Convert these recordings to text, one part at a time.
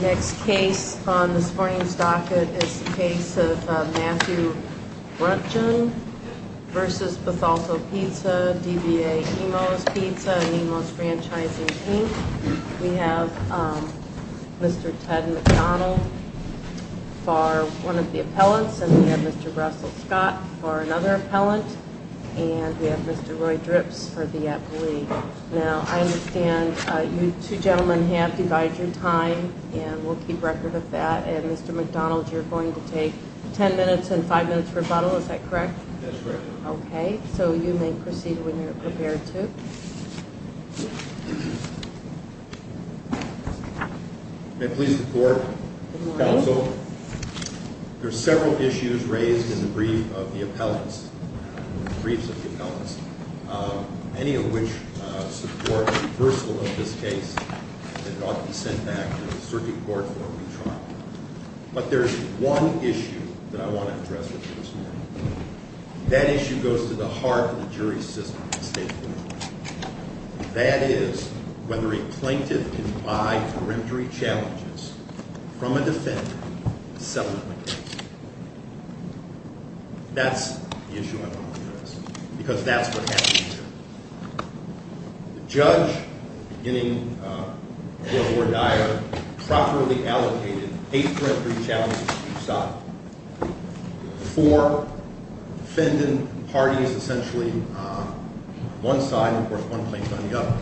Next case on this morning's docket is the case of Matthew Bruntjen v. Bethalto Pizza, DBA Nemo's Pizza, Nemo's Franchising Team. We have Mr. Ted McDonald for one of the appellants, and we have Mr. Russell Scott for another appellant, and we have Mr. Roy Drips for the appellee. Now, I understand you two gentlemen have divided your time, and we'll keep record of that. And, Mr. McDonald, you're going to take ten minutes and five minutes rebuttal, is that correct? That's correct. Okay, so you may proceed when you're prepared to. Good morning. There are several issues raised in the brief of the appellants, briefs of the appellants, many of which support reversal of this case. It ought to be sent back to the circuit court for a retrial. But there's one issue that I want to address with you this morning. That issue goes to the heart of the jury system at the state court. That is whether a plaintiff can buy peremptory challenges from a defender to settle the case. That's the issue I want to address, because that's what happens here. The judge, beginning before Dyer, properly allocated eight peremptory challenges to each side. Four defendant parties essentially on one side and, of course, one plaintiff on the other.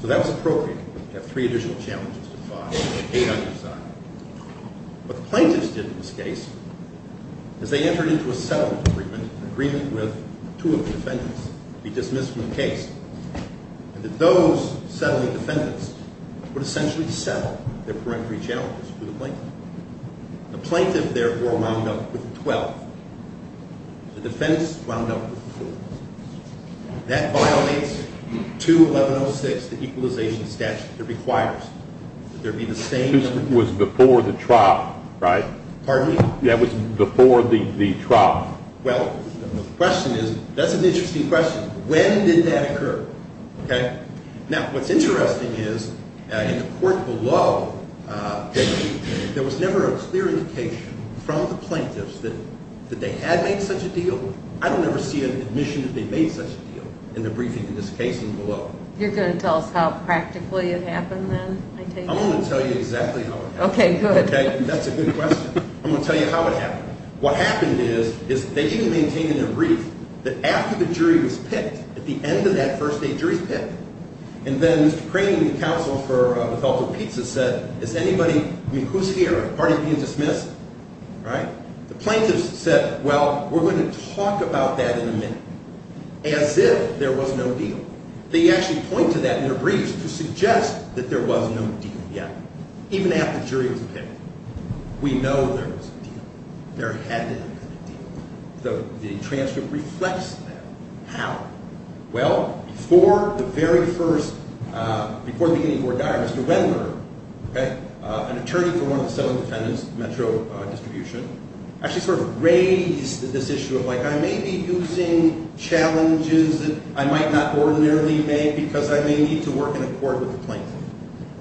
So that was appropriate. You have three additional challenges to file, eight on each side. What the plaintiffs did in this case is they entered into a settlement agreement, an agreement with two of the defendants to be dismissed from the case, and that those settling defendants would essentially settle their peremptory challenges for the plaintiff. The plaintiff, therefore, wound up with 12. The defense wound up with 12. That violates 2-1106, the equalization statute that requires that there be the same- This was before the trial, right? Pardon me? That was before the trial. Well, the question is, that's an interesting question. When did that occur? Okay? Now, what's interesting is in the court below, there was never a clear indication from the plaintiffs that they had made such a deal. I don't ever see an admission that they made such a deal in the briefing in this case and below. You're going to tell us how practically it happened then? I'm going to tell you exactly how it happened. Okay, good. Okay? That's a good question. I'm going to tell you how it happened. What happened is, is they didn't maintain in their brief that after the jury was picked, at the end of that first day, jury's picked. And then Mr. Craney, the counsel for Betelgeuse Pizza, said, is anybody- I mean, who's here? Are the parties being dismissed? Right? The plaintiffs said, well, we're going to talk about that in a minute. As if there was no deal. They actually point to that in their briefs to suggest that there was no deal yet. Even after jury was picked. We know there was a deal. There had to have been a deal. The transcript reflects that. How? Well, before the very first- before the beginning of the court diary, Mr. Wendler, an attorney for one of the seven defendants, Metro Distribution, actually sort of raised this issue of, like, I may be using challenges that I might not ordinarily make because I may need to work in accord with the plaintiff.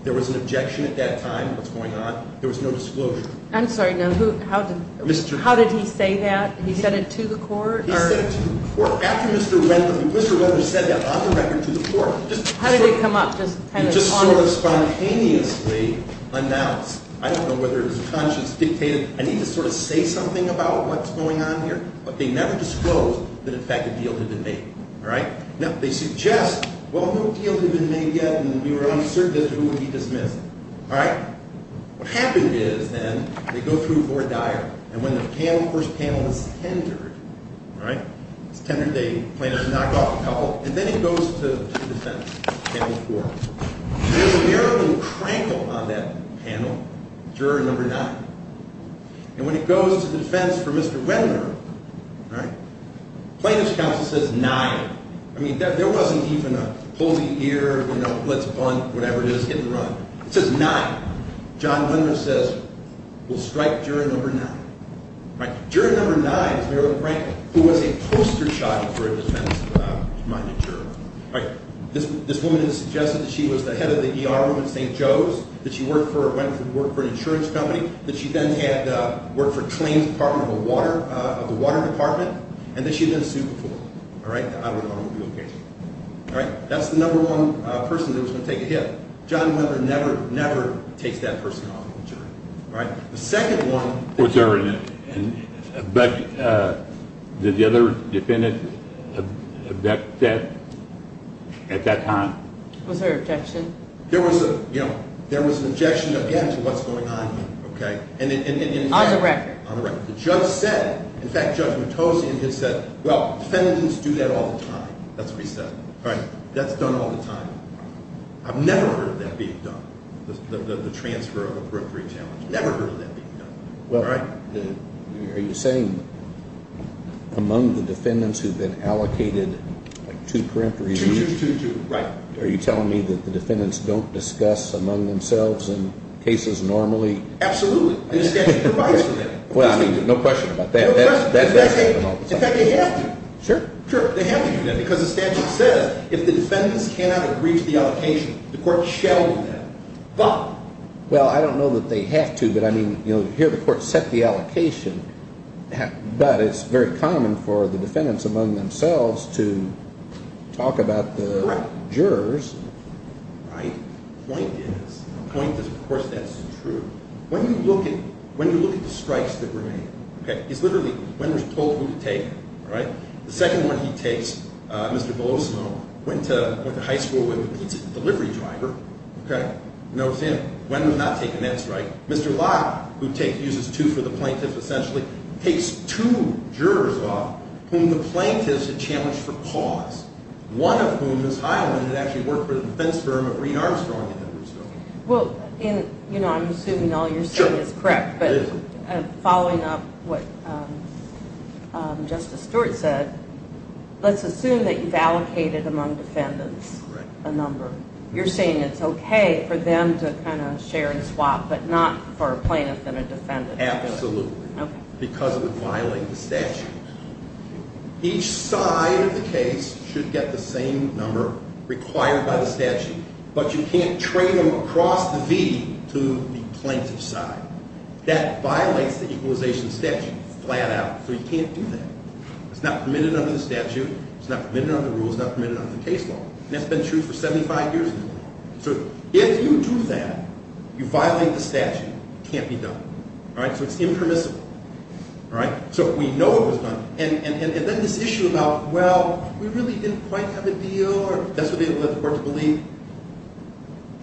There was an objection at that time. What's going on? There was no disclosure. I'm sorry. Now, who- how did- Mr.- How did he say that? He said it to the court? He said it to the court. After Mr. Wendler- Mr. Wendler said that on the record to the court. How did it come up? Just kind of- Just sort of spontaneously announced. I don't know whether it was conscious, dictated. I need to sort of say something about what's going on here. But they never disclosed that, in fact, a deal had been made. All right? Now, they suggest, well, no deal had been made yet, and we were uncertain as to who would be dismissed. All right? What happened is, then, they go through board dialogue. And when the panel, first panel, is tendered, all right, it's tendered. They- plaintiffs knock off a couple. And then it goes to the defense, panel four. There's a miracle crankle on that panel, juror number nine. And when it goes to the defense for Mr. Wendler, all right, plaintiff's counsel says nine. I mean, there wasn't even a pull the ear, you know, let's bunt, whatever it is, hit the run. It says nine. John Wendler says, we'll strike juror number nine. All right? Juror number nine is Marilyn Branko, who was a poster child for a defense-minded juror. All right? This woman had suggested that she was the head of the ER room at St. Joe's, that she worked for or went to work for an insurance company, that she then had worked for claims department of a water- of the water department, and that she had been a super forward. All right? The automobile case. All right? That's the number one person that was going to take a hit. John Wendler never, never takes that person off the jury. All right? The second one- Was there a- did the other defendant object that at that time? Was there an objection? There was a- you know, there was an objection to what's going on here. Okay? And- On the record. On the record. The judge said- in fact, Judge Matosian has said, well, defendants do that all the time. That's what he said. All right? That's done all the time. I've never heard that being done. The transfer of a peremptory challenge. Never heard that being done. All right? Are you saying among the defendants who've been allocated two peremptories a week- Two, two, two. Right. Are you telling me that the defendants don't discuss among themselves in cases normally- Absolutely. The statute provides for that. Well, I mean, no question about that. No question. In fact, they have to. Sure. Sure. They have to do that because the statute says if the defendants cannot agree to the allocation, the court shall do that. But- Well, I don't know that they have to. But, I mean, you'll hear the court set the allocation. But it's very common for the defendants among themselves to talk about the jurors. Right. The point is- the point is, of course, that's true. When you look at- when you look at the strikes that were made- Okay? It's literally when was told who to take. All right? The second one he takes, Mr. Belosimo, went to high school with a pizza delivery driver. Okay? You know what I'm saying? When was that taken? That's right. Mr. Locke, who takes- uses two for the plaintiffs, essentially, takes two jurors off whom the plaintiffs had challenged for cause. One of whom, Ms. Highland, had actually worked for the defense firm of Reed Armstrong in Hendersonville. Well, in- you know, I'm assuming all you're saying is correct. Sure. Following up what Justice Stewart said, let's assume that you've allocated among defendants a number. You're saying it's okay for them to kind of share and swap, but not for a plaintiff and a defendant. Absolutely. Okay. Because of the violating of the statute. Each side of the case should get the same number required by the statute, but you can't train them across the V to the plaintiff's side. That violates the equalization statute flat out. So you can't do that. It's not permitted under the statute. It's not permitted under the rules. It's not permitted under the case law. And that's been true for 75 years. So if you do that, you violate the statute. It can't be done. All right? So it's impermissible. All right? So we know it was done. And then this issue about, well, we really didn't quite have a deal, or that's what they were able to work to believe.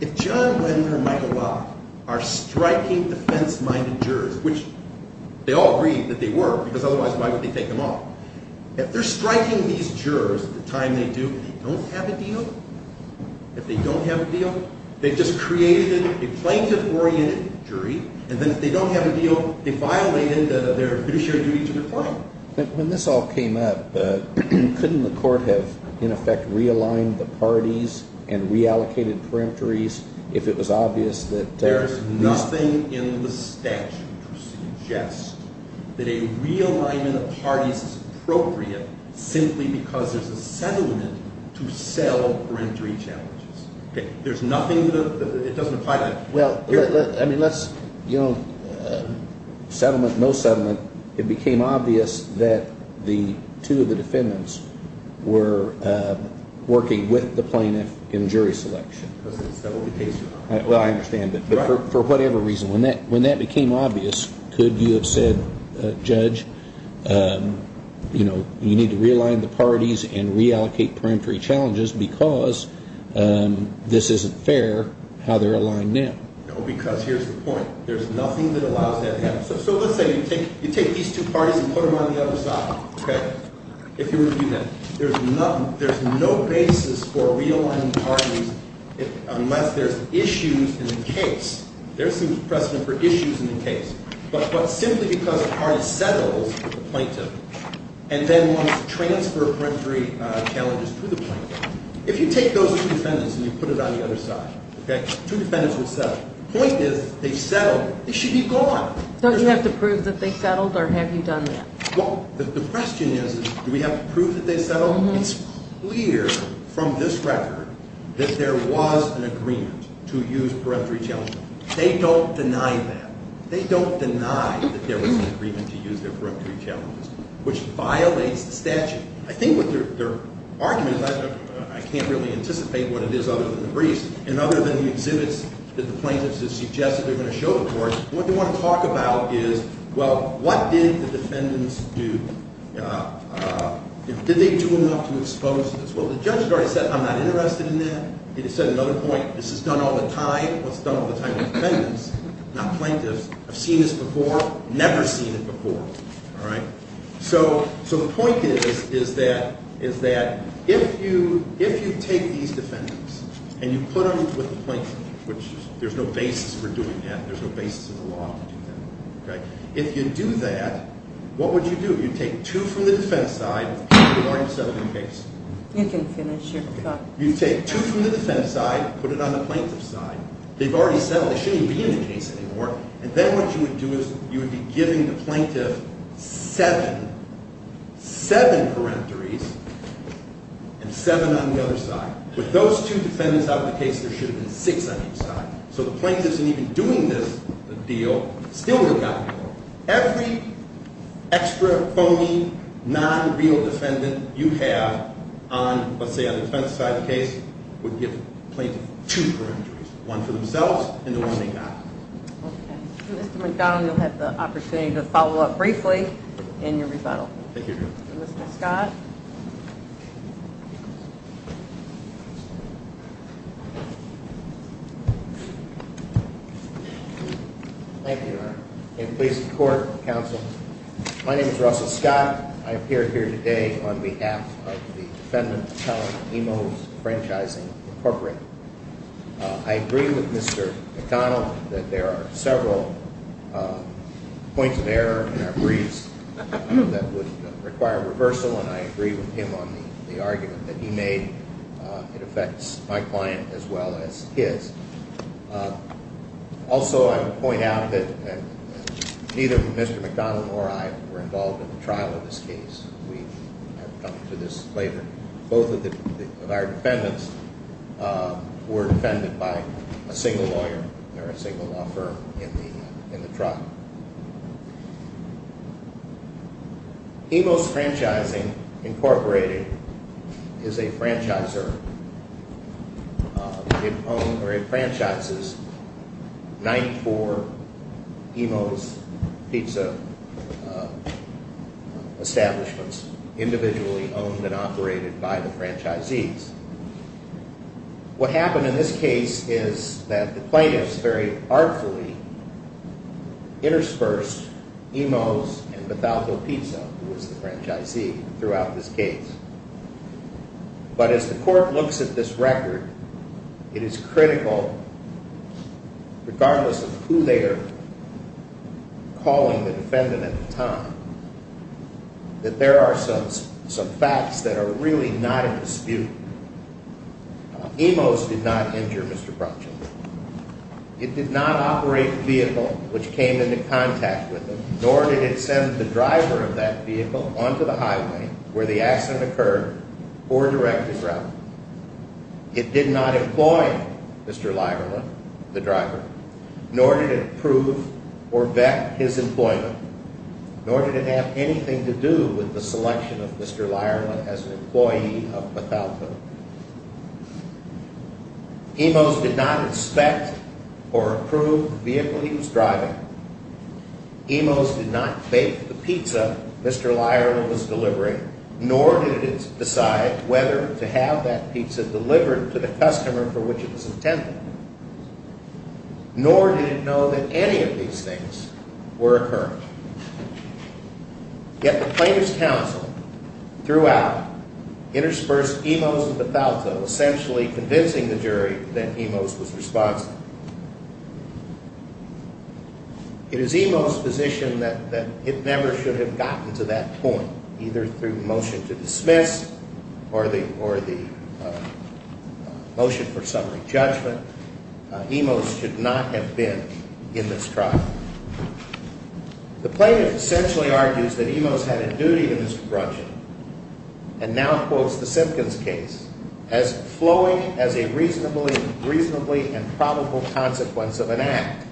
If John Wendler and Michael Locke are striking defense-minded jurors, which they all agreed that they were, because otherwise why would they take them off? If they're striking these jurors at the time they do and they don't have a deal, if they don't have a deal, they've just created a plaintiff-oriented jury. And then if they don't have a deal, they violate their fiduciary duty to the court. When this all came up, couldn't the court have, in effect, realigned the parties and reallocated peremptories if it was obvious that there's nothing in the statute to suggest that a realignment of parties is appropriate simply because there's a settlement to sell peremptory challenges? Okay? There's nothing that it doesn't apply to that. Well, I mean, let's, you know, settlement, no settlement. It became obvious that the two of the defendants were working with the plaintiff in jury selection. Well, I understand, but for whatever reason, when that became obvious, could you have said, Judge, you know, you need to realign the parties and reallocate peremptory challenges because this isn't fair how they're aligned now? No, because here's the point. There's nothing that allows that to happen. So let's say you take these two parties and put them on the other side, okay? If you were to do that, there's no basis for realigning parties unless there's issues in the case. There's some precedent for issues in the case. But simply because a party settles with the plaintiff and then wants to transfer peremptory challenges to the plaintiff, if you take those two defendants and you put it on the other side, okay, two defendants will settle. The point is they settled. They should be gone. Don't you have to prove that they settled, or have you done that? Well, the question is, do we have to prove that they settled? It's clear from this record that there was an agreement to use peremptory challenges. They don't deny that. They don't deny that there was an agreement to use their peremptory challenges, which violates the statute. I think what their argument is, I can't really anticipate what it is other than the briefs and other than the exhibits that the plaintiffs have suggested they're going to show the courts. What they want to talk about is, well, what did the defendants do? Did they do enough to expose this? Well, the judge has already said, I'm not interested in that. It has said another point. This is done all the time. It's done all the time with defendants, not plaintiffs. I've seen this before. Never seen it before. All right? So the point is that if you take these defendants and you put them with the plaintiffs, which there's no basis for doing that. There's no basis in the law to do that. If you do that, what would you do? You'd take two from the defense side. They've already settled the case. You can finish your thought. You'd take two from the defense side, put it on the plaintiff's side. They've already settled. They shouldn't even be in the case anymore. And then what you would do is you would be giving the plaintiff seven, seven peremptories and seven on the other side. With those two defendants out of the case, there should have been six on each side. So the plaintiffs, in even doing this deal, still would not be in the case. Every extra, phony, non-real defendant you have on, let's say, on the defense side of the case would give the plaintiff two peremptories, one for themselves and the one they got. Okay. Mr. McDonnell, you'll have the opportunity to follow up briefly in your rebuttal. Thank you, Your Honor. Mr. Scott. Thank you, Your Honor. And please support the counsel. My name is Russell Scott. I appear here today on behalf of the Defendant Appellant Emos Franchising Incorporated. I agree with Mr. McDonnell that there are several points of error in our briefs that would require reversal. And I agree with him on the argument that he made. It affects my client as well as his. Also, I would point out that neither Mr. McDonnell nor I were involved in the trial of this case. We have come to this later. Both of our defendants were defended by a single lawyer or a single law firm in the trial. Emos Franchising Incorporated is a franchiser. It franchises 94 Emos pizza establishments individually owned and operated by the franchisees. What happened in this case is that the plaintiffs very artfully interspersed Emos and Bethalco Pizza, who was the franchisee, throughout this case. But as the court looks at this record, it is critical, regardless of who they are calling the defendant at the time, that there are some facts that are really not in dispute. Emos did not injure Mr. Franchising. It did not operate the vehicle which came into contact with him, where the accident occurred, or direct his route. It did not employ Mr. Lierman, the driver, nor did it approve or vet his employment, nor did it have anything to do with the selection of Mr. Lierman as an employee of Bethalco. Emos did not inspect or approve the vehicle he was driving. Emos did not bake the pizza Mr. Lierman was delivering, nor did it decide whether to have that pizza delivered to the customer for which it was intended. Nor did it know that any of these things were occurring. Yet the plaintiff's counsel, throughout, interspersed Emos and Bethalco, essentially convincing the jury that Emos was responsible. It is Emos' position that it never should have gotten to that point, either through the motion to dismiss or the motion for summary judgment. Emos should not have been in this trial. The plaintiff essentially argues that Emos had a duty to Mr. Franchising, and now quotes the Simpkins case, as flowing as a reasonably and probable consequence of an act.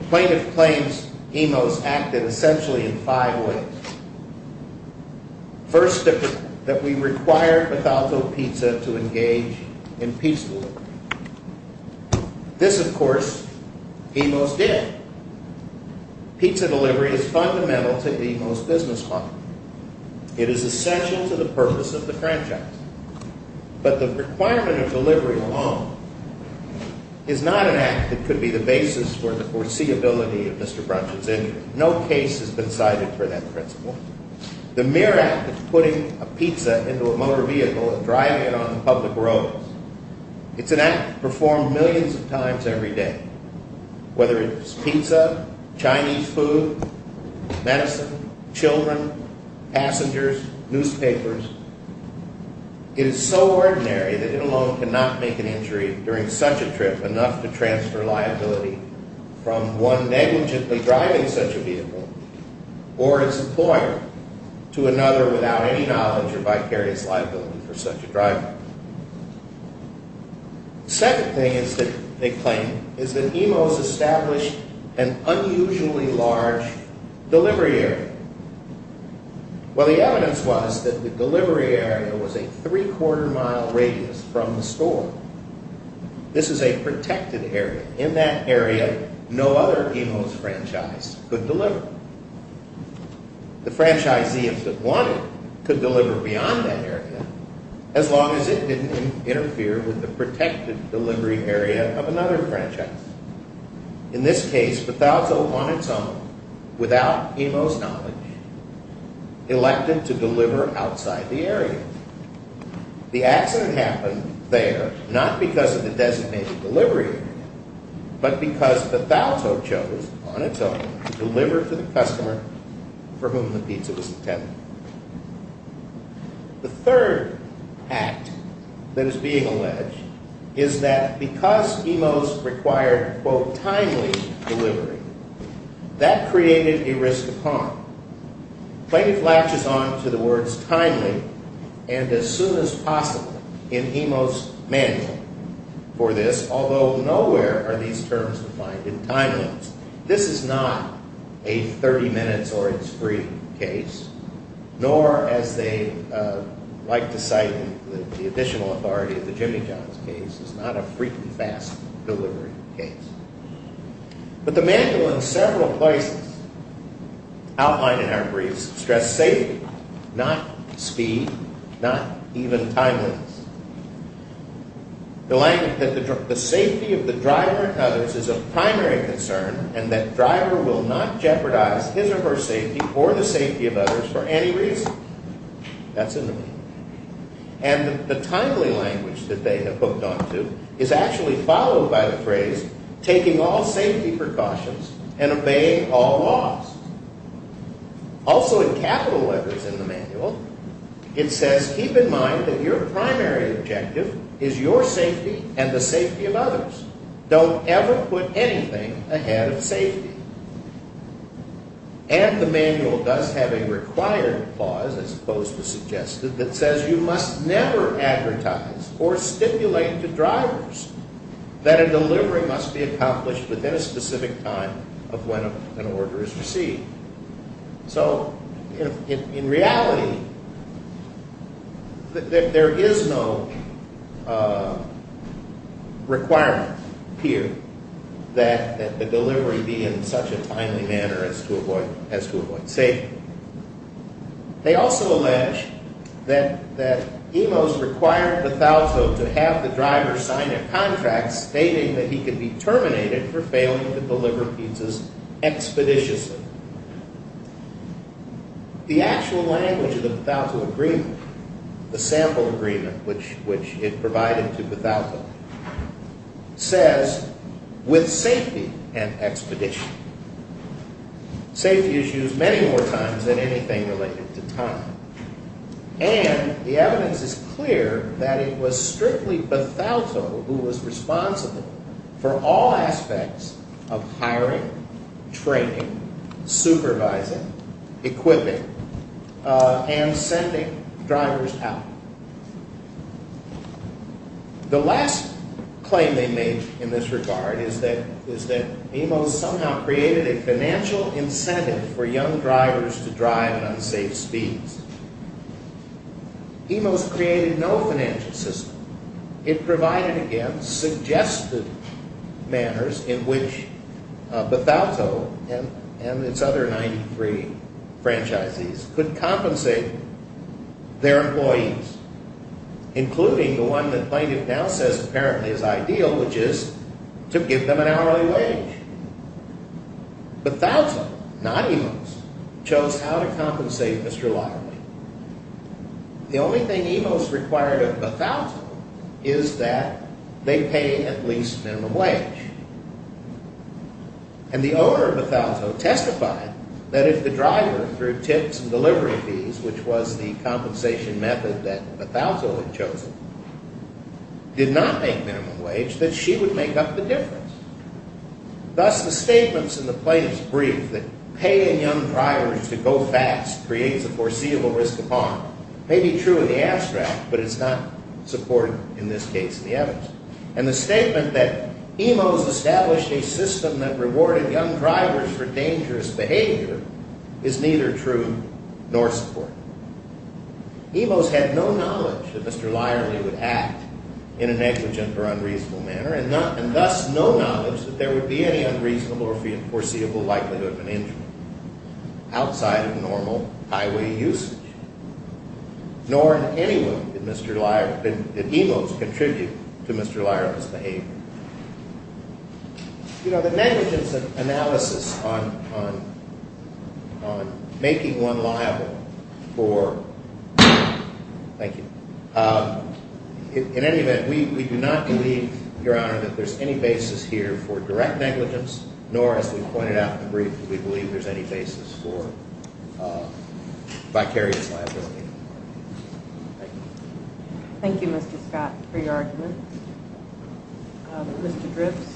The plaintiff claims Emos acted essentially in five ways. First, that we required Bethalco Pizza to engage in pizza delivery. This, of course, Emos did. Pizza delivery is fundamental to Emos' business model. It is essential to the purpose of the franchise. But the requirement of delivery alone is not an act that could be the basis for the foreseeability of Mr. Franchising. No case has been cited for that principle. The mere act of putting a pizza into a motor vehicle and driving it on public roads, it's an act performed millions of times every day, whether it's pizza, Chinese food, medicine, children, passengers, newspapers. It is so ordinary that it alone cannot make an injury during such a trip enough to transfer liability from one negligently driving such a vehicle or its employer to another without any knowledge or vicarious liability for such a driver. The second thing they claim is that Emos established an unusually large delivery area. Well, the evidence was that the delivery area was a three-quarter mile radius from the store. This is a protected area. In that area, no other Emos franchise could deliver. The franchisee, if it wanted, could deliver beyond that area as long as it didn't interfere with the protected delivery area of another franchise. In this case, Bethalto, on its own, without Emos knowledge, elected to deliver outside the area. The accident happened there not because of the designated delivery area, but because Bethalto chose, on its own, to deliver to the customer for whom the pizza was intended. The third act that is being alleged is that because Emos required, quote, timely delivery, that created a risk of harm. Plaintiff latches on to the words timely and as soon as possible in Emos' manual for this, although nowhere are these terms defined in time limits. This is not a 30 minutes or its free case. Nor, as they like to cite in the additional authority of the Jimmy Jones case, is not a freaking fast delivery case. But the manual in several places outlined in our briefs stress safety, not speed, not even time limits. The safety of the driver and others is of primary concern and that driver will not jeopardize his or her safety or the safety of others for any reason. That's in the manual. And the timely language that they have hooked on to is actually followed by the phrase taking all safety precautions and obeying all laws. Also in capital letters in the manual, it says, keep in mind that your primary objective is your safety and the safety of others. Don't ever put anything ahead of safety. And the manual does have a required clause, as opposed to suggested, that says you must never advertise or stipulate to drivers that a delivery must be accomplished within a specific time of when an order is received. So, in reality, there is no requirement here that the delivery be in such a timely manner as to avoid safety. They also allege that EMOS required Bethalto to have the driver sign a contract stating that he could be terminated for failing to deliver pizzas expeditiously. The actual language of the Bethalto agreement, the sample agreement, which it provided to Bethalto, says with safety and expedition. Safety is used many more times than anything related to time. And the evidence is clear that it was strictly Bethalto who was responsible for all aspects of hiring, training, supervising, equipping, and sending drivers out. The last claim they make in this regard is that EMOS somehow created a financial incentive for young drivers to drive at unsafe speeds. EMOS created no financial system. It provided, again, suggested manners in which Bethalto and its other 93 franchisees could compensate their employees, including the one that plaintiff now says apparently is ideal, which is to give them an hourly wage. Bethalto, not EMOS, chose how to compensate Mr. Laramie. The only thing EMOS required of Bethalto is that they pay at least minimum wage. And the owner of Bethalto testified that if the driver, through tips and delivery fees, which was the compensation method that Bethalto had chosen, did not make minimum wage, that she would make up the difference. Thus, the statements in the plaintiff's brief that paying young drivers to go fast creates a foreseeable risk of harm may be true in the abstract, but it's not supported in this case in the evidence. And the statement that EMOS established a system that rewarded young drivers for dangerous behavior is neither true nor supported. EMOS had no knowledge that Mr. Laramie would act in a negligent or unreasonable manner, and thus no knowledge that there would be any unreasonable or foreseeable likelihood of an injury outside of normal highway usage. Nor in any way did EMOS contribute to Mr. Laramie's behavior. You know, the negligence analysis on making one liable for... Thank you. In any event, we do not believe, Your Honor, that there's any basis here for direct negligence, nor, as we pointed out in the brief, do we believe there's any basis for vicarious liability. Thank you. Thank you, Mr. Scott, for your argument. Mr. Dripps?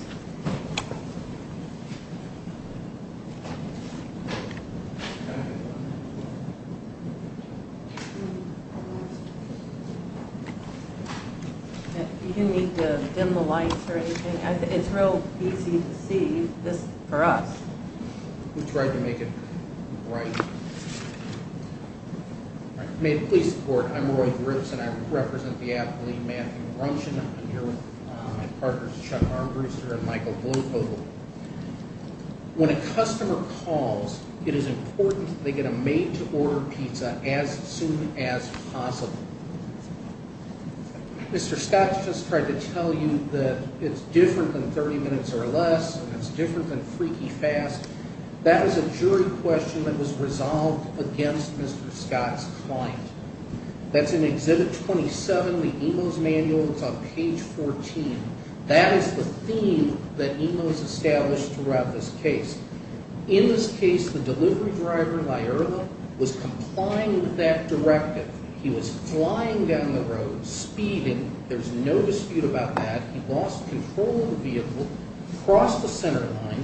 You didn't need to dim the lights or anything. It's real easy to see this for us. We tried to make it bright. May it please the Court, I'm Roy Dripps, and I represent the athlete Matthew Grumshin. I'm here with my partners Chuck Armbruster and Michael Bluecoat. When a customer calls, it is important that they get a made-to-order pizza as soon as possible. Mr. Scott's just tried to tell you that it's different than 30 minutes or less, and it's different than freaky fast. That was a jury question that was resolved against Mr. Scott's client. That's in Exhibit 27, the EMOS manual. It's on page 14. That is the theme that EMOS established throughout this case. In this case, the delivery driver, Lyerla, was complying with that directive. He was flying down the road, speeding. There's no dispute about that. He lost control of the vehicle, crossed the center line,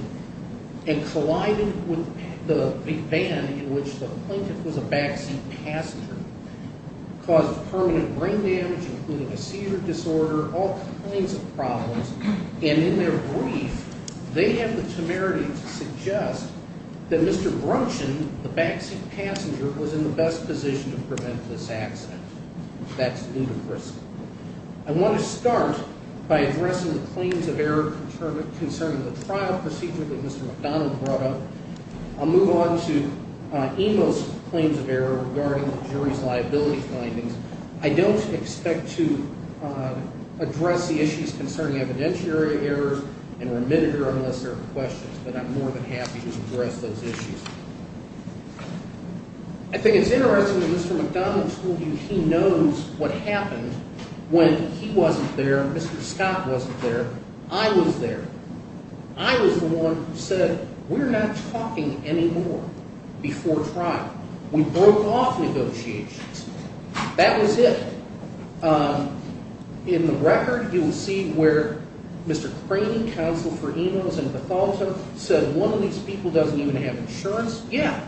and collided with the van in which the plaintiff was a backseat passenger. Caused permanent brain damage, including a seizure disorder, all kinds of problems. And in their brief, they have the temerity to suggest that Mr. Grumshin, the backseat passenger, was in the best position to prevent this accident. That's ludicrous. I want to start by addressing the claims of error concerning the trial procedure that Mr. McDonald brought up. I'll move on to EMOS claims of error regarding the jury's liability findings. I don't expect to address the issues concerning evidentiary errors and remitted errors unless there are questions, but I'm more than happy to address those issues. I think it's interesting that Mr. McDonald told you he knows what happened when he wasn't there, Mr. Scott wasn't there, I was there. I was the one who said, we're not talking anymore before trial. We broke off negotiations. That was it. In the record, you will see where Mr. Craney, counsel for EMOS and Bethalta, said one of these people doesn't even have insurance. Yeah,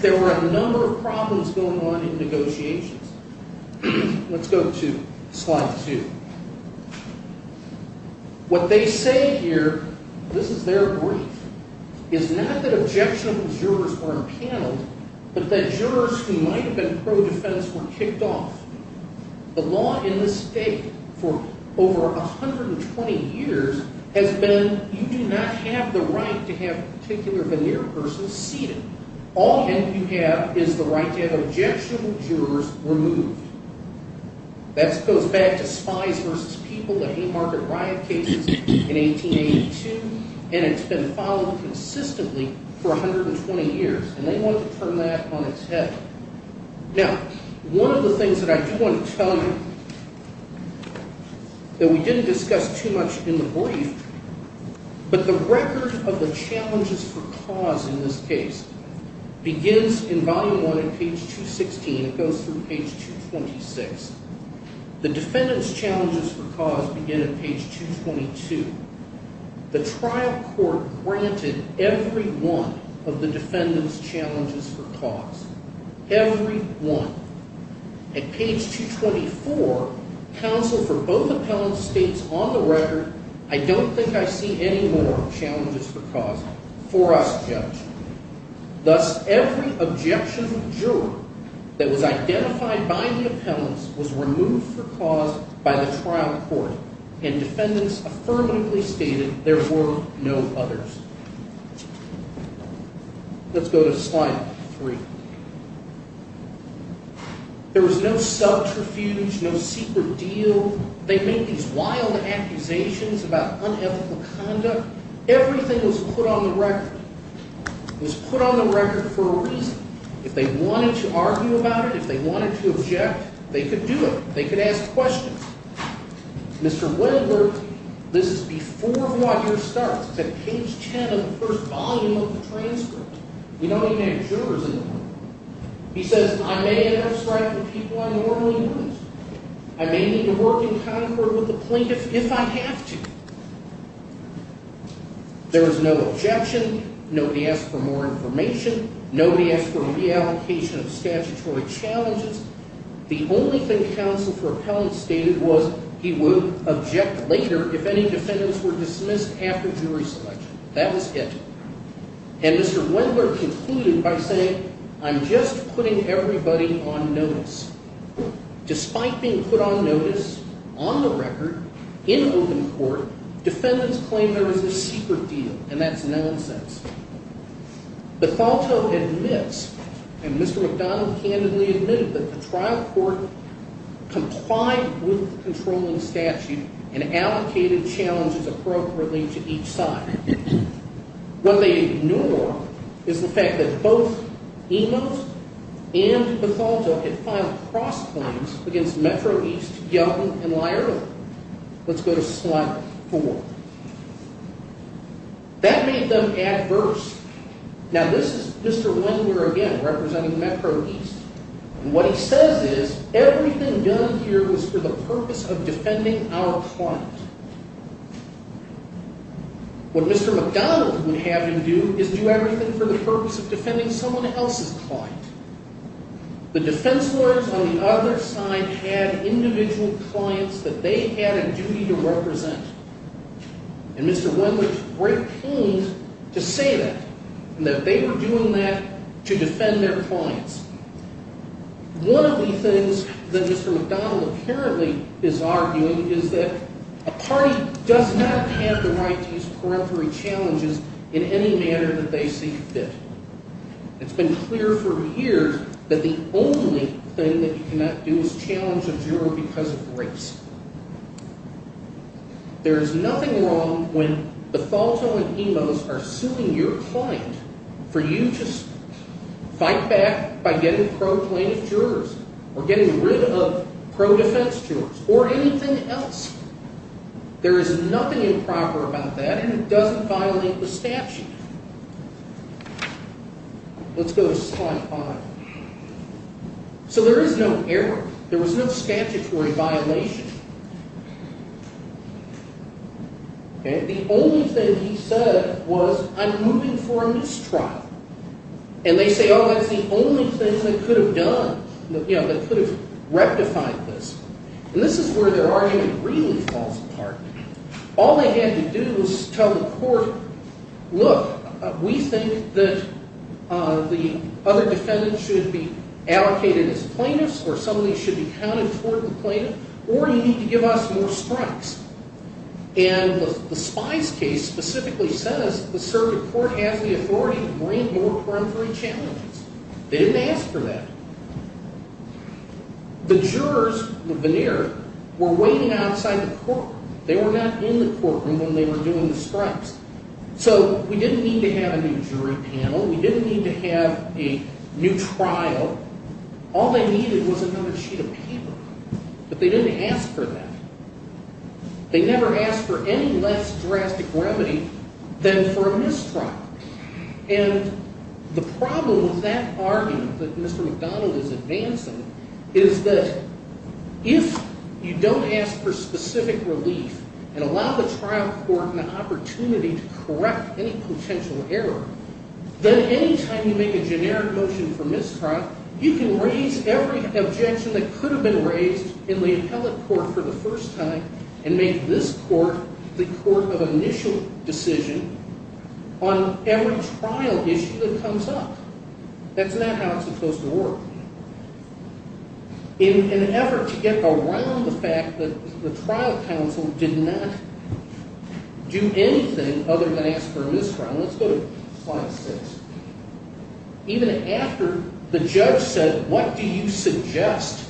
there were a number of problems going on in negotiations. Let's go to slide two. What they say here, this is their brief, is not that objectionable jurors were impaneled, but that jurors who might have been pro-defense were kicked off. The law in this state for over 120 years has been, you do not have the right to have a particular veneer person seated. All you have is the right to have objectionable jurors removed. That goes back to spies versus people, the Haymarket Riot cases in 1882, and it's been followed consistently for 120 years. And they wanted to turn that on its head. Now, one of the things that I do want to tell you, that we didn't discuss too much in the brief, but the record of the challenges for cause in this case begins in volume one at page 216. It goes through page 226. The defendant's challenges for cause begin at page 222. The trial court granted every one of the defendant's challenges for cause. Every one. At page 224, counsel for both appellants states on the record, I don't think I see any more challenges for cause for us judges. Thus, every objectionable juror that was identified by the appellants was removed for cause by the trial court, and defendants affirmatively stated there were no others. Let's go to slide three. There was no subterfuge, no secret deal. They make these wild accusations about unethical conduct. Everything was put on the record. It was put on the record for a reason. If they wanted to argue about it, if they wanted to object, they could do it. They could ask questions. Mr. Winograd, this is before the lawyer starts. It's at page 10 of the first volume of the transcript. We don't even have jurors anymore. He says, I may have strife with people I normally would. I may need to work in concord with the plaintiff if I have to. There was no objection. Nobody asked for more information. Nobody asked for reallocation of statutory challenges. The only thing counsel for appellants stated was he would object later if any defendants were dismissed after jury selection. That was it. And Mr. Winograd concluded by saying, I'm just putting everybody on notice. Despite being put on notice, on the record, in open court, defendants claim there was a secret deal, and that's nonsense. Bethalto admits, and Mr. McDonald candidly admitted, that the trial court complied with the controlling statute and allocated challenges appropriately to each side. What they ignore is the fact that both Emos and Bethalto had filed cross-claims against Metro East, Young, and Laerdal. Let's go to slide four. That made them adverse. Now, this is Mr. Winograd again, representing Metro East. What he says is, everything done here was for the purpose of defending our client. What Mr. McDonald would have him do is do everything for the purpose of defending someone else's client. The defense lawyers on the other side had individual clients that they had a duty to represent. And Mr. Winograd's great pained to say that, and that they were doing that to defend their clients. One of the things that Mr. McDonald apparently is arguing is that a party does not have the right to use for every challenges in any manner that they see fit. It's been clear for years that the only thing that you cannot do is challenge a juror because of race. There is nothing wrong when Bethalto and Emos are suing your client for you just fight back by getting pro plaintiff jurors or getting rid of pro defense jurors or anything else. There is nothing improper about that and it doesn't violate the statute. Let's go to slide 5. So there is no error. There was no statutory violation. The only thing he said was, I'm moving for a mistrial. And they say, oh, that's the only thing they could have done that could have rectified this. And this is where their argument really falls apart. All they had to do was tell the court, look, we think that the other defendant should be allocated as plaintiffs or somebody should be counted toward the plaintiff or you need to give us more strikes. And the Spies case specifically says the circuit court has the authority to bring more peremptory challenges. They didn't ask for that. The jurors, the veneer, were waiting outside the court. They were not in the courtroom when they were doing the strikes. So we didn't need to have a new jury panel. We didn't need to have a new trial. All they needed was another sheet of paper. But they didn't ask for that. They never asked for any less drastic remedy than for a mistrial. And the problem with that argument that Mr. McDonald is advancing is that if you don't ask for specific relief and allow the trial court an opportunity to correct any potential error, then any time you make a generic motion for mistrial, you can raise every objection that could have been raised in the appellate court for the first time and make this court the court of initial decision on every trial issue that comes up. That's not how it's supposed to work. In an effort to get around the fact that the trial counsel did not do anything other than ask for a mistrial, let's go to slide 6. Even after the judge said, what do you suggest?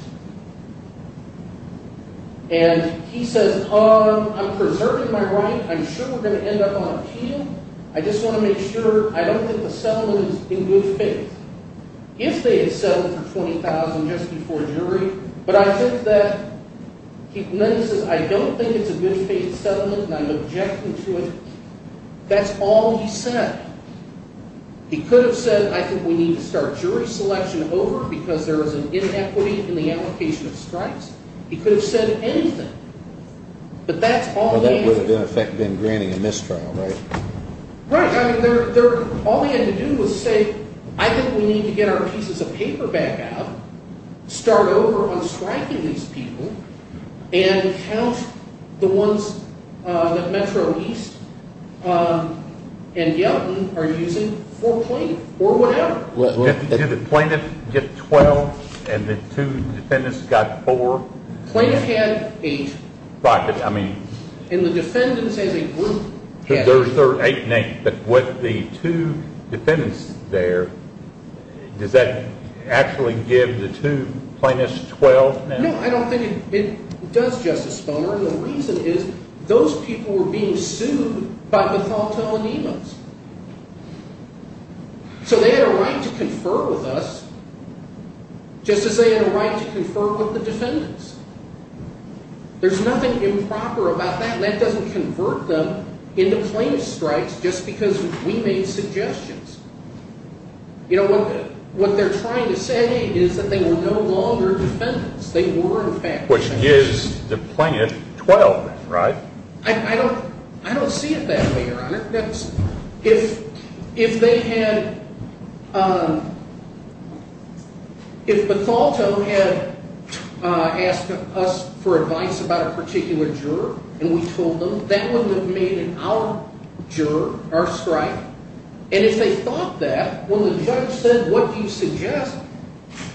And he says, I'm preserving my right. I'm sure we're going to end up on appeal. I just want to make sure. I don't think the settlement is in good faith. If they had settled for $20,000 just before jury, but I think that, then he says, I don't think it's a good faith settlement and I'm objecting to it. That's all he said. He could have said, I think we need to start jury selection over because there is an inequity in the allocation of stripes. He could have said anything. But that's all he said. That would have in effect been granting a mistrial, right? Right. All he had to do was say, I think we need to get our pieces of paper back out, start over on striking these people, and count the ones that Metro East and Yelton are using for plaintiff, or whatever. Did the plaintiff get 12 and the two defendants got 4? Plaintiff had 8. Right, but I mean... And the defendants as a group had 8. But with the two defendants there, does that actually give the two plaintiffs 12? No, I don't think it does, Justice Sponger. And the reason is, those people were being sued by Methotel and Emos. So they had a right to confer with us, just as they had a right to confer with the defendants. There's nothing improper about that. And that doesn't convert them into plaintiff strikes, just because we made suggestions. You know, what they're trying to say is that they were no longer defendants. They were, in fact, defendants. Which gives the plaintiff 12, right? I don't see it that way, Your Honor. If Methotel had asked us for advice about a particular juror, and we told them, that wouldn't have made our juror our strike. And if they thought that, when the judge said, what do you suggest?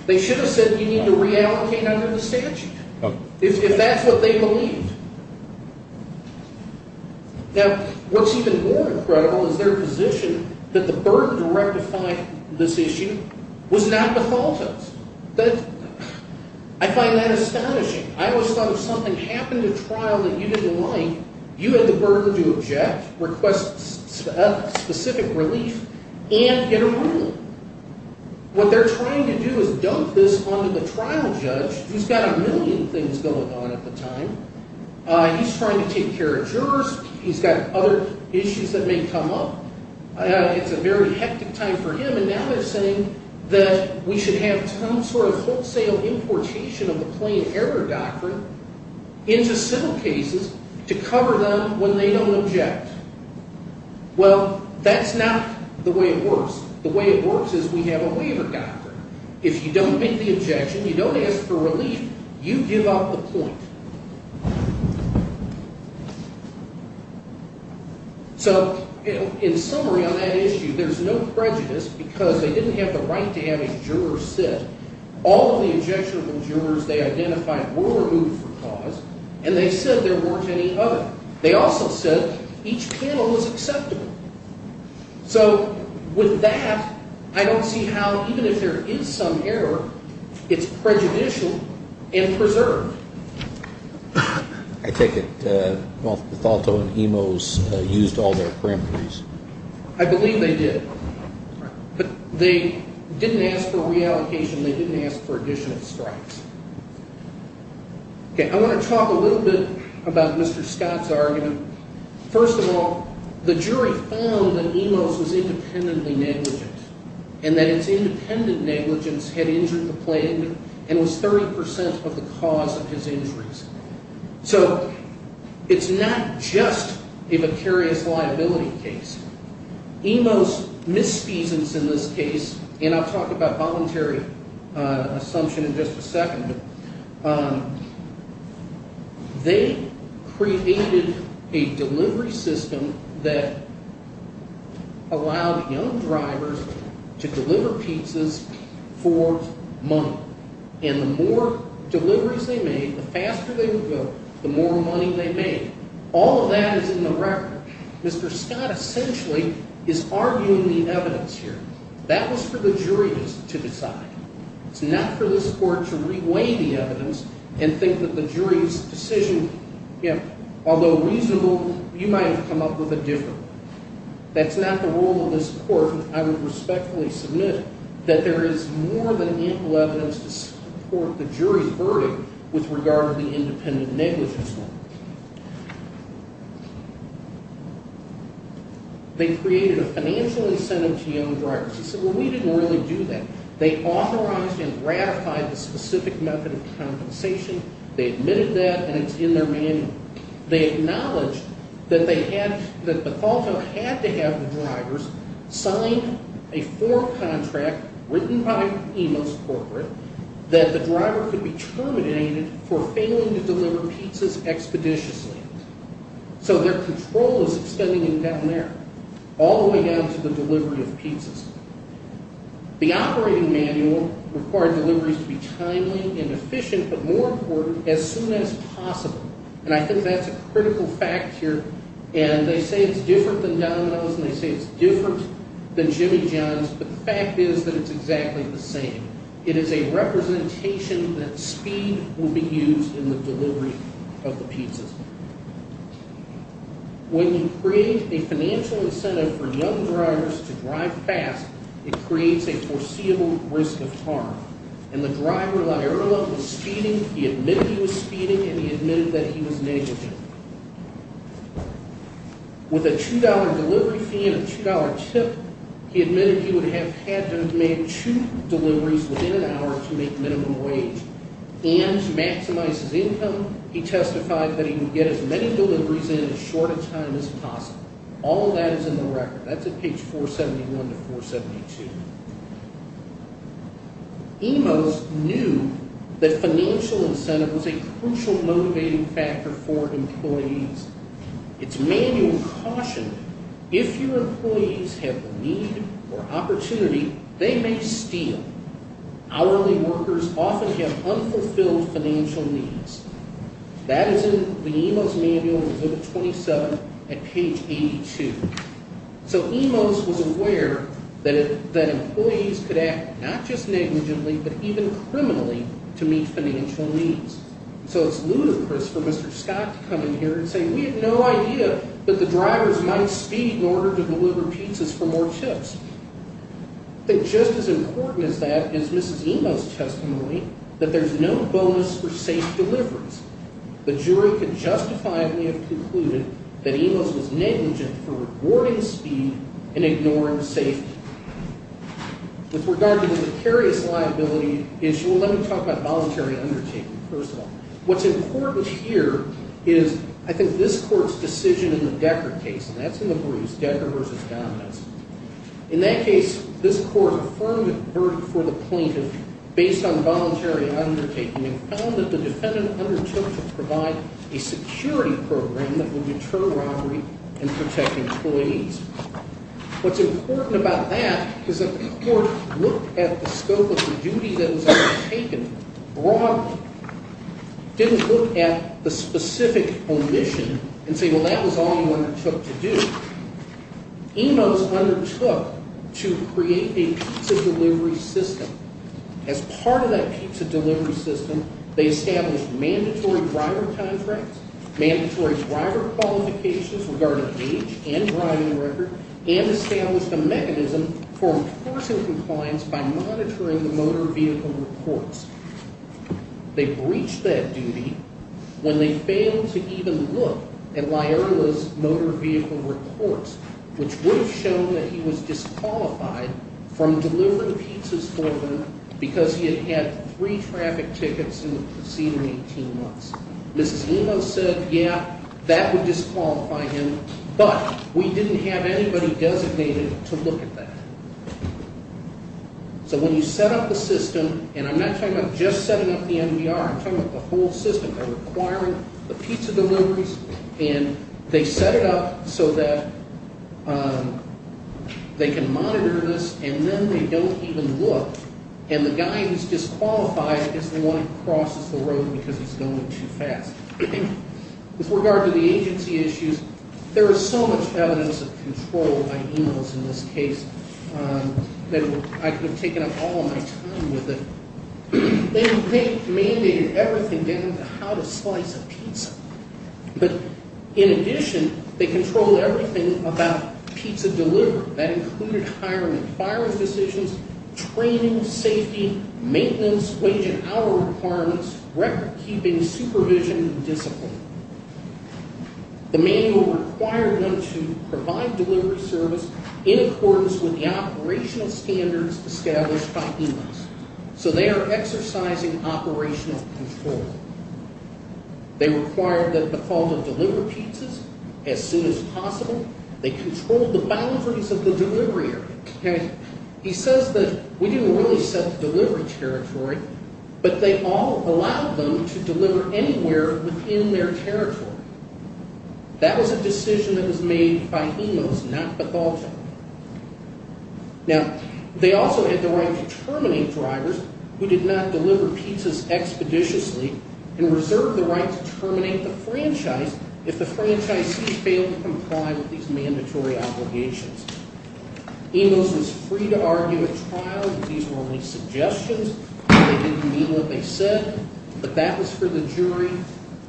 They should have said, you need to reallocate under the statute. If that's what they believed. Now, what's even more incredible is their position that the burden to rectify this issue was not Methotel's. I find that astonishing. I always thought if something happened at trial that you didn't like, you had the burden to object, request specific relief, and get a ruling. What they're trying to do is dump this onto the trial judge, who's got a million things going on at the time. He's trying to take care of jurors. He's got other issues that may come up. It's a very hectic time for him. And now they're saying that we should have some sort of wholesale importation of the plain error doctrine into civil cases to cover them when they don't object. Well, that's not the way it works. The way it works is we have a waiver doctrine. If you don't make the objection, you don't ask for relief, you give up the point. So, in summary on that issue, there's no prejudice because they didn't have the right to have a juror sit. All of the objectionable jurors they identified were removed from clause, and they said there weren't any other. They also said each panel was acceptable. So, with that, I don't see how, even if there is some error, it's prejudicial and preserved. I take it Bothalto and Emos used all their parameters. I believe they did. But they didn't ask for reallocation. They didn't ask for additional strikes. Okay, I want to talk a little bit about Mr. Scott's argument. First of all, the jury found that Emos was independently negligent and that its independent negligence had injured the plaintiff and was 30% of the cause of his injuries. So, it's not just a vicarious liability case. Emos' misfeasance in this case, and I'll talk about voluntary assumption in just a second, they created a delivery system that allowed young drivers to deliver pizzas for money. And the more deliveries they made, the faster they would go, the more money they made. All of that is in the record. Mr. Scott, essentially, is arguing the evidence here. That was for the jury to decide. It's not for this court to re-weigh the evidence and think that the jury's decision, although reasonable, you might have come up with a different one. That's not the role of this court, and I would respectfully submit that there is more than ample evidence to support the jury's verdict with regard to the independent negligence law. They created a financial incentive to young drivers. He said, well, we didn't really do that. They authorized and ratified the specific method of compensation. They admitted that, and it's in their manual. They acknowledged that they had, that Bethalto had to have the drivers sign a form contract written by Emos Corporate that the driver could be terminated for failing to deliver pizzas expeditiously. So their control is extending down there, all the way down to the delivery of pizzas. The operating manual required deliveries to be timely and efficient, but more important, as soon as possible. And I think that's a critical fact here. And they say it's different than Domino's, and they say it's different than Jimmy John's, but the fact is that it's exactly the same. It is a representation that speed will be used in the delivery of the pizzas. When you create a financial incentive for young drivers to drive fast, it creates a foreseeable risk of harm. And the driver, La'Erla, was speeding. He admitted he was speeding, and he admitted that he was negligent. With a $2 delivery fee and a $2 tip, he admitted he would have had to have made two deliveries within an hour to make minimum wage. And to maximize his income, he testified that he would get as many deliveries in as short a time as possible. All of that is in the record. That's at page 471 to 472. EMOS knew that financial incentive was a crucial motivating factor for employees. Its manual cautioned, if your employees have need or opportunity, they may steal. Hourly workers often have unfulfilled financial needs. That is in the EMOS manual, at page 82. So EMOS was aware that employees could act not just negligently, but even criminally, to meet financial needs. So it's ludicrous for Mr. Scott to come in here and say, we had no idea that the drivers might speed in order to deliver pizzas for more tips. I think just as important as that is Mrs. EMOS' testimony that there's no bonus for safe deliveries. The jury could justifiably have concluded that EMOS was negligent for rewarding speed and ignoring safety. With regard to the vicarious liability issue, let me talk about voluntary undertaking, first of all. What's important here is, I think, this court's decision in the Decker case, and that's in the briefs, Decker v. Dominance. In that case, this court affirmed a verdict for the plaintiff based on voluntary undertaking and found that the defendant undertook to provide a security program that would deter robbery and protect employees. What's important about that is that this court looked at the scope of the duty that was undertaken broadly. Didn't look at the specific omission and say, well, that was all you undertook to do. EMOS undertook to create a pizza delivery system. As part of that pizza delivery system, they established mandatory driver contracts, mandatory driver qualifications regarding age and driving record, and established a mechanism for enforcing compliance by monitoring the motor vehicle reports. They breached that duty when they failed to even look at Lyerla's motor vehicle reports, which would have shown that he was disqualified from delivering pizzas for them because he had had three traffic tickets in the preceding 18 months. Mrs. EMOS said, yeah, that would disqualify him, but we didn't have anybody designated to look at that. So when you set up the system, and I'm not talking about just setting up the NVR, I'm talking about the whole system. They're requiring the pizza deliveries, and they set it up so that they can monitor this, and then they don't even look, and the guy who's disqualified is the one who crosses the road because he's going too fast. With regard to the agency issues, there is so much evidence of control by EMOS in this case that I could have taken up all my time with it. They mandated everything down to how to slice a pizza. But in addition, they control everything about pizza delivery. That included hiring and firing physicians, training, safety, maintenance, wage and hour requirements, record-keeping, supervision, and discipline. The manual required them to provide delivery service in accordance with the operational standards established by EMOS. So they are exercising operational control. They required that the fault of deliver pizzas as soon as possible. They controlled the boundaries of the delivery area. He says that we didn't really set the delivery territory, but they all allowed them to deliver anywhere within their territory. That was a decision that was made by EMOS, not Bethalto. Now, they also had the right to terminate drivers who did not deliver pizzas expeditiously and reserved the right to terminate the franchise if the franchisee failed to comply with these mandatory obligations. EMOS was free to argue at trial that these were only suggestions. They didn't mean what they said. But that was for the jury,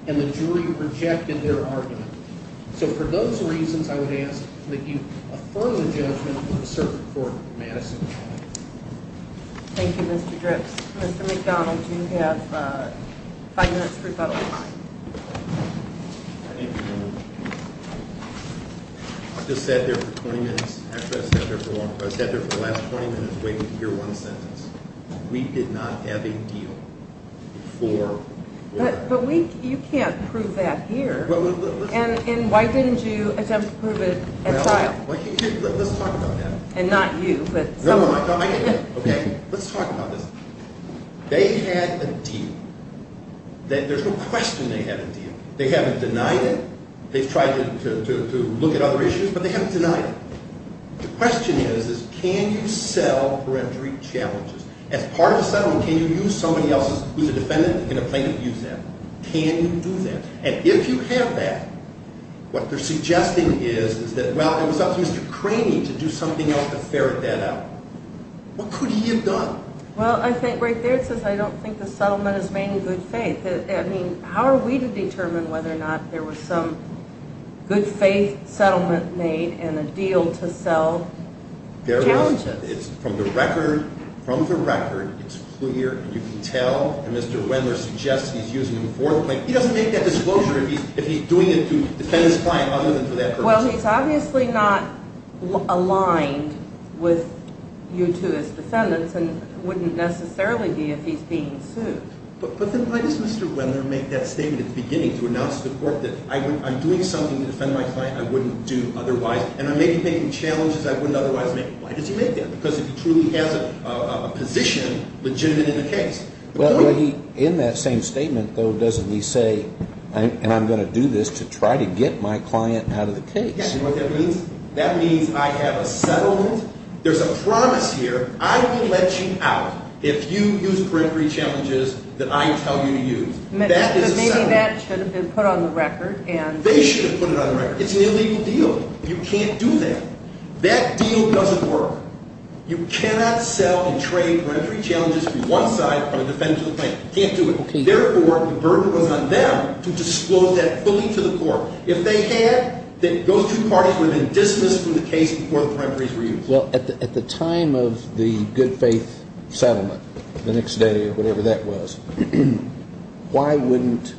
and the jury rejected their argument. So for those reasons, I would ask that you affirm the judgment of the Circuit Court of Madison. Thank you, Mr. Dripps. Mr. McDonald, you have five minutes for public comment. I just sat there for 20 minutes. I sat there for the last 20 minutes waiting to hear one sentence. We did not have a deal for... But you can't prove that here. And why didn't you attempt to prove it at trial? Let's talk about that. And not you, but someone. Okay, let's talk about this. They had a deal. There's no question they had a deal. They haven't denied it. They've tried to look at other issues, but they haven't denied it. The question is, is can you sell perentory challenges? As part of a settlement, can you use somebody else who's a defendant in a plaintiff's use case? Can you do that? And if you have that, what they're suggesting is that, well, it was up to Mr. Craney to do something else to ferret that out. What could he have done? Well, I think right there it says I don't think the settlement is made in good faith. I mean, how are we to determine whether or not there was some good-faith settlement made and a deal to sell challenges? It's from the record. From the record, it's clear. You can tell that Mr. Wendler suggests he's using him for the plaintiff. He doesn't make that disclosure if he's doing it to defend his client other than for that purpose. Well, he's obviously not aligned with you two as defendants, and wouldn't necessarily be if he's being sued. But then why does Mr. Wendler make that statement at the beginning to announce to the court that I'm doing something to defend my client I wouldn't do otherwise, and I may be taking challenges I wouldn't otherwise make? Why does he make that? Because he truly has a position legitimate in the case. Well, in that same statement, though, doesn't he say, and I'm going to do this to try to get my client out of the case? Yeah, you know what that means? That means I have a settlement. There's a promise here. I will let you out if you use the peremptory challenges that I tell you to use. That is a settlement. But maybe that should have been put on the record. They should have put it on the record. It's an illegal deal. You can't do that. That deal doesn't work. You cannot sell and trade peremptory challenges from one side on a defendant to the plaintiff. You can't do it. Therefore, the burden was on them to disclose that fully to the court. If they had, those two parties would have been dismissed from the case before the peremptories were used. Well, at the time of the good faith settlement, the next day or whatever that was, why wouldn't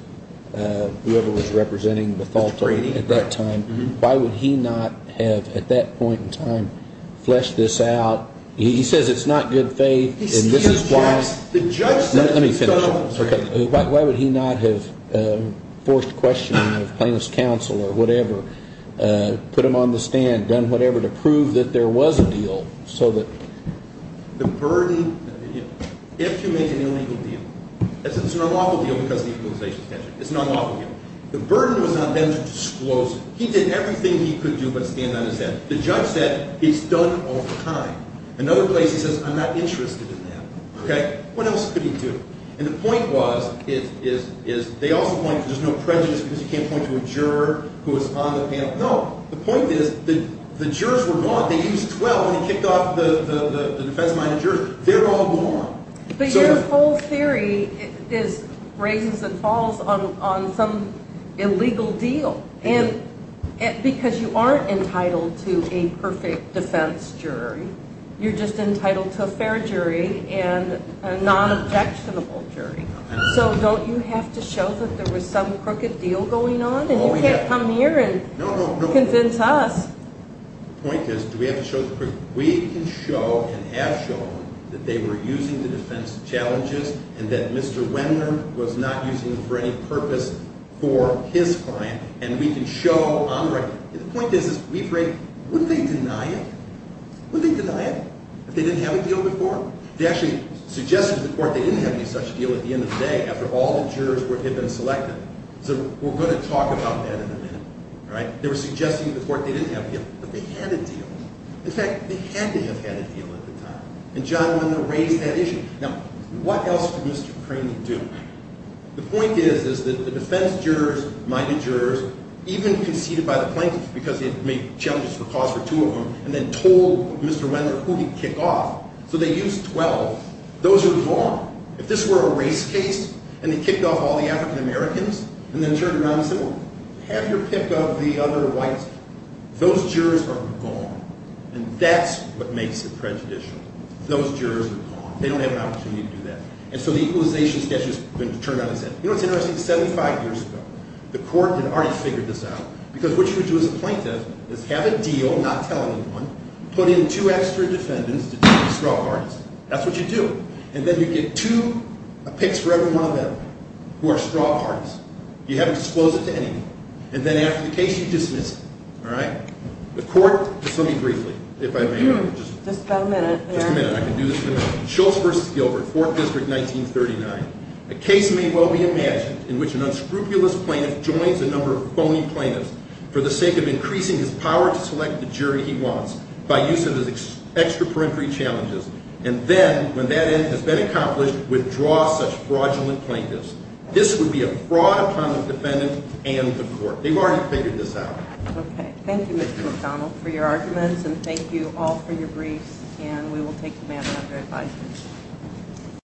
whoever was representing Bethalto at that time, why would he not have, at that point in time, fleshed this out? He says it's not good faith, and this is why. Let me finish. Why would he not have forced questioning of plaintiff's counsel or whatever, put them on the stand, done whatever to prove that there was a deal, so that the burden... If you make an illegal deal, it's an unlawful deal because of the equalization statute. It's an unlawful deal. The burden was on them to disclose it. He did everything he could do but stand on his end. The judge said, it's done all the time. Another place, he says, I'm not interested in that. Okay? What else could he do? And the point was, they also point, there's no prejudice because you can't point to a juror who is on the panel. No. The point is, the jurors were gone. They used 12 when he kicked off the defense-minded jury. They're all gone. But your whole theory is raises and falls on some illegal deal because you aren't entitled to a perfect defense jury. You're just entitled to a fair jury and a non-objectionable jury. So don't you have to show that there was some crooked deal going on and you can't come here and convince us. The point is, do we have to show the proof? We can show and have shown that they were using the defense challenges and that Mr. Wendler was not using them for any purpose for his client. And we can show on the record. The point is, wouldn't they deny it? Wouldn't they deny it if they didn't have a deal before? They actually suggested to the court they didn't have any such deal at the end of the day after all the jurors had been selected. So we're going to talk about that in a minute. They were suggesting to the court they didn't have a deal but they had a deal. In fact, they had to have had a deal at the time. And John Wendler raised that issue. Now, what else did Mr. Craney do? The point is, is that the defense jurors, minded jurors, even conceded by the plaintiffs because they had made challenges for cause for two of them and then told Mr. Wendler who he'd kick off. So they used 12. Those are wrong. If this were a race case and they kicked off all the African-Americans and then turned around and said, well, have your pick of the other whites those jurors are gone. And that's what makes it prejudicial. Those jurors are gone. They don't have an opportunity to do that. And so the equalization schedule is going to turn around and say, you know what's interesting? 75 years ago the court had already figured this out because what you would do as a plaintiff is have a deal, not tell anyone, put in two extra defendants to do the straw parties. That's what you do. And then you get two picks for every one of them who are straw parties. You haven't disclosed it to anyone. And then after the case you dismiss it. All right? The court, just let me briefly, if I may. Just a minute here. Just a minute. I can do this in a minute. Schultz v. Gilbert, Fourth District, 1939. A case may well be imagined in which an unscrupulous plaintiff joins a number of phony plaintiffs for the sake of increasing his power to select the jury he wants by use of his extra-parentry challenges. And then, when that end has been accomplished, withdraw such fraudulent plaintiffs. This would be a fraud upon the defendant and the court. They've already figured this out. Okay. Thank you, Mr. McDonald, for your arguments and thank you all for your briefs and we will take them after advisement.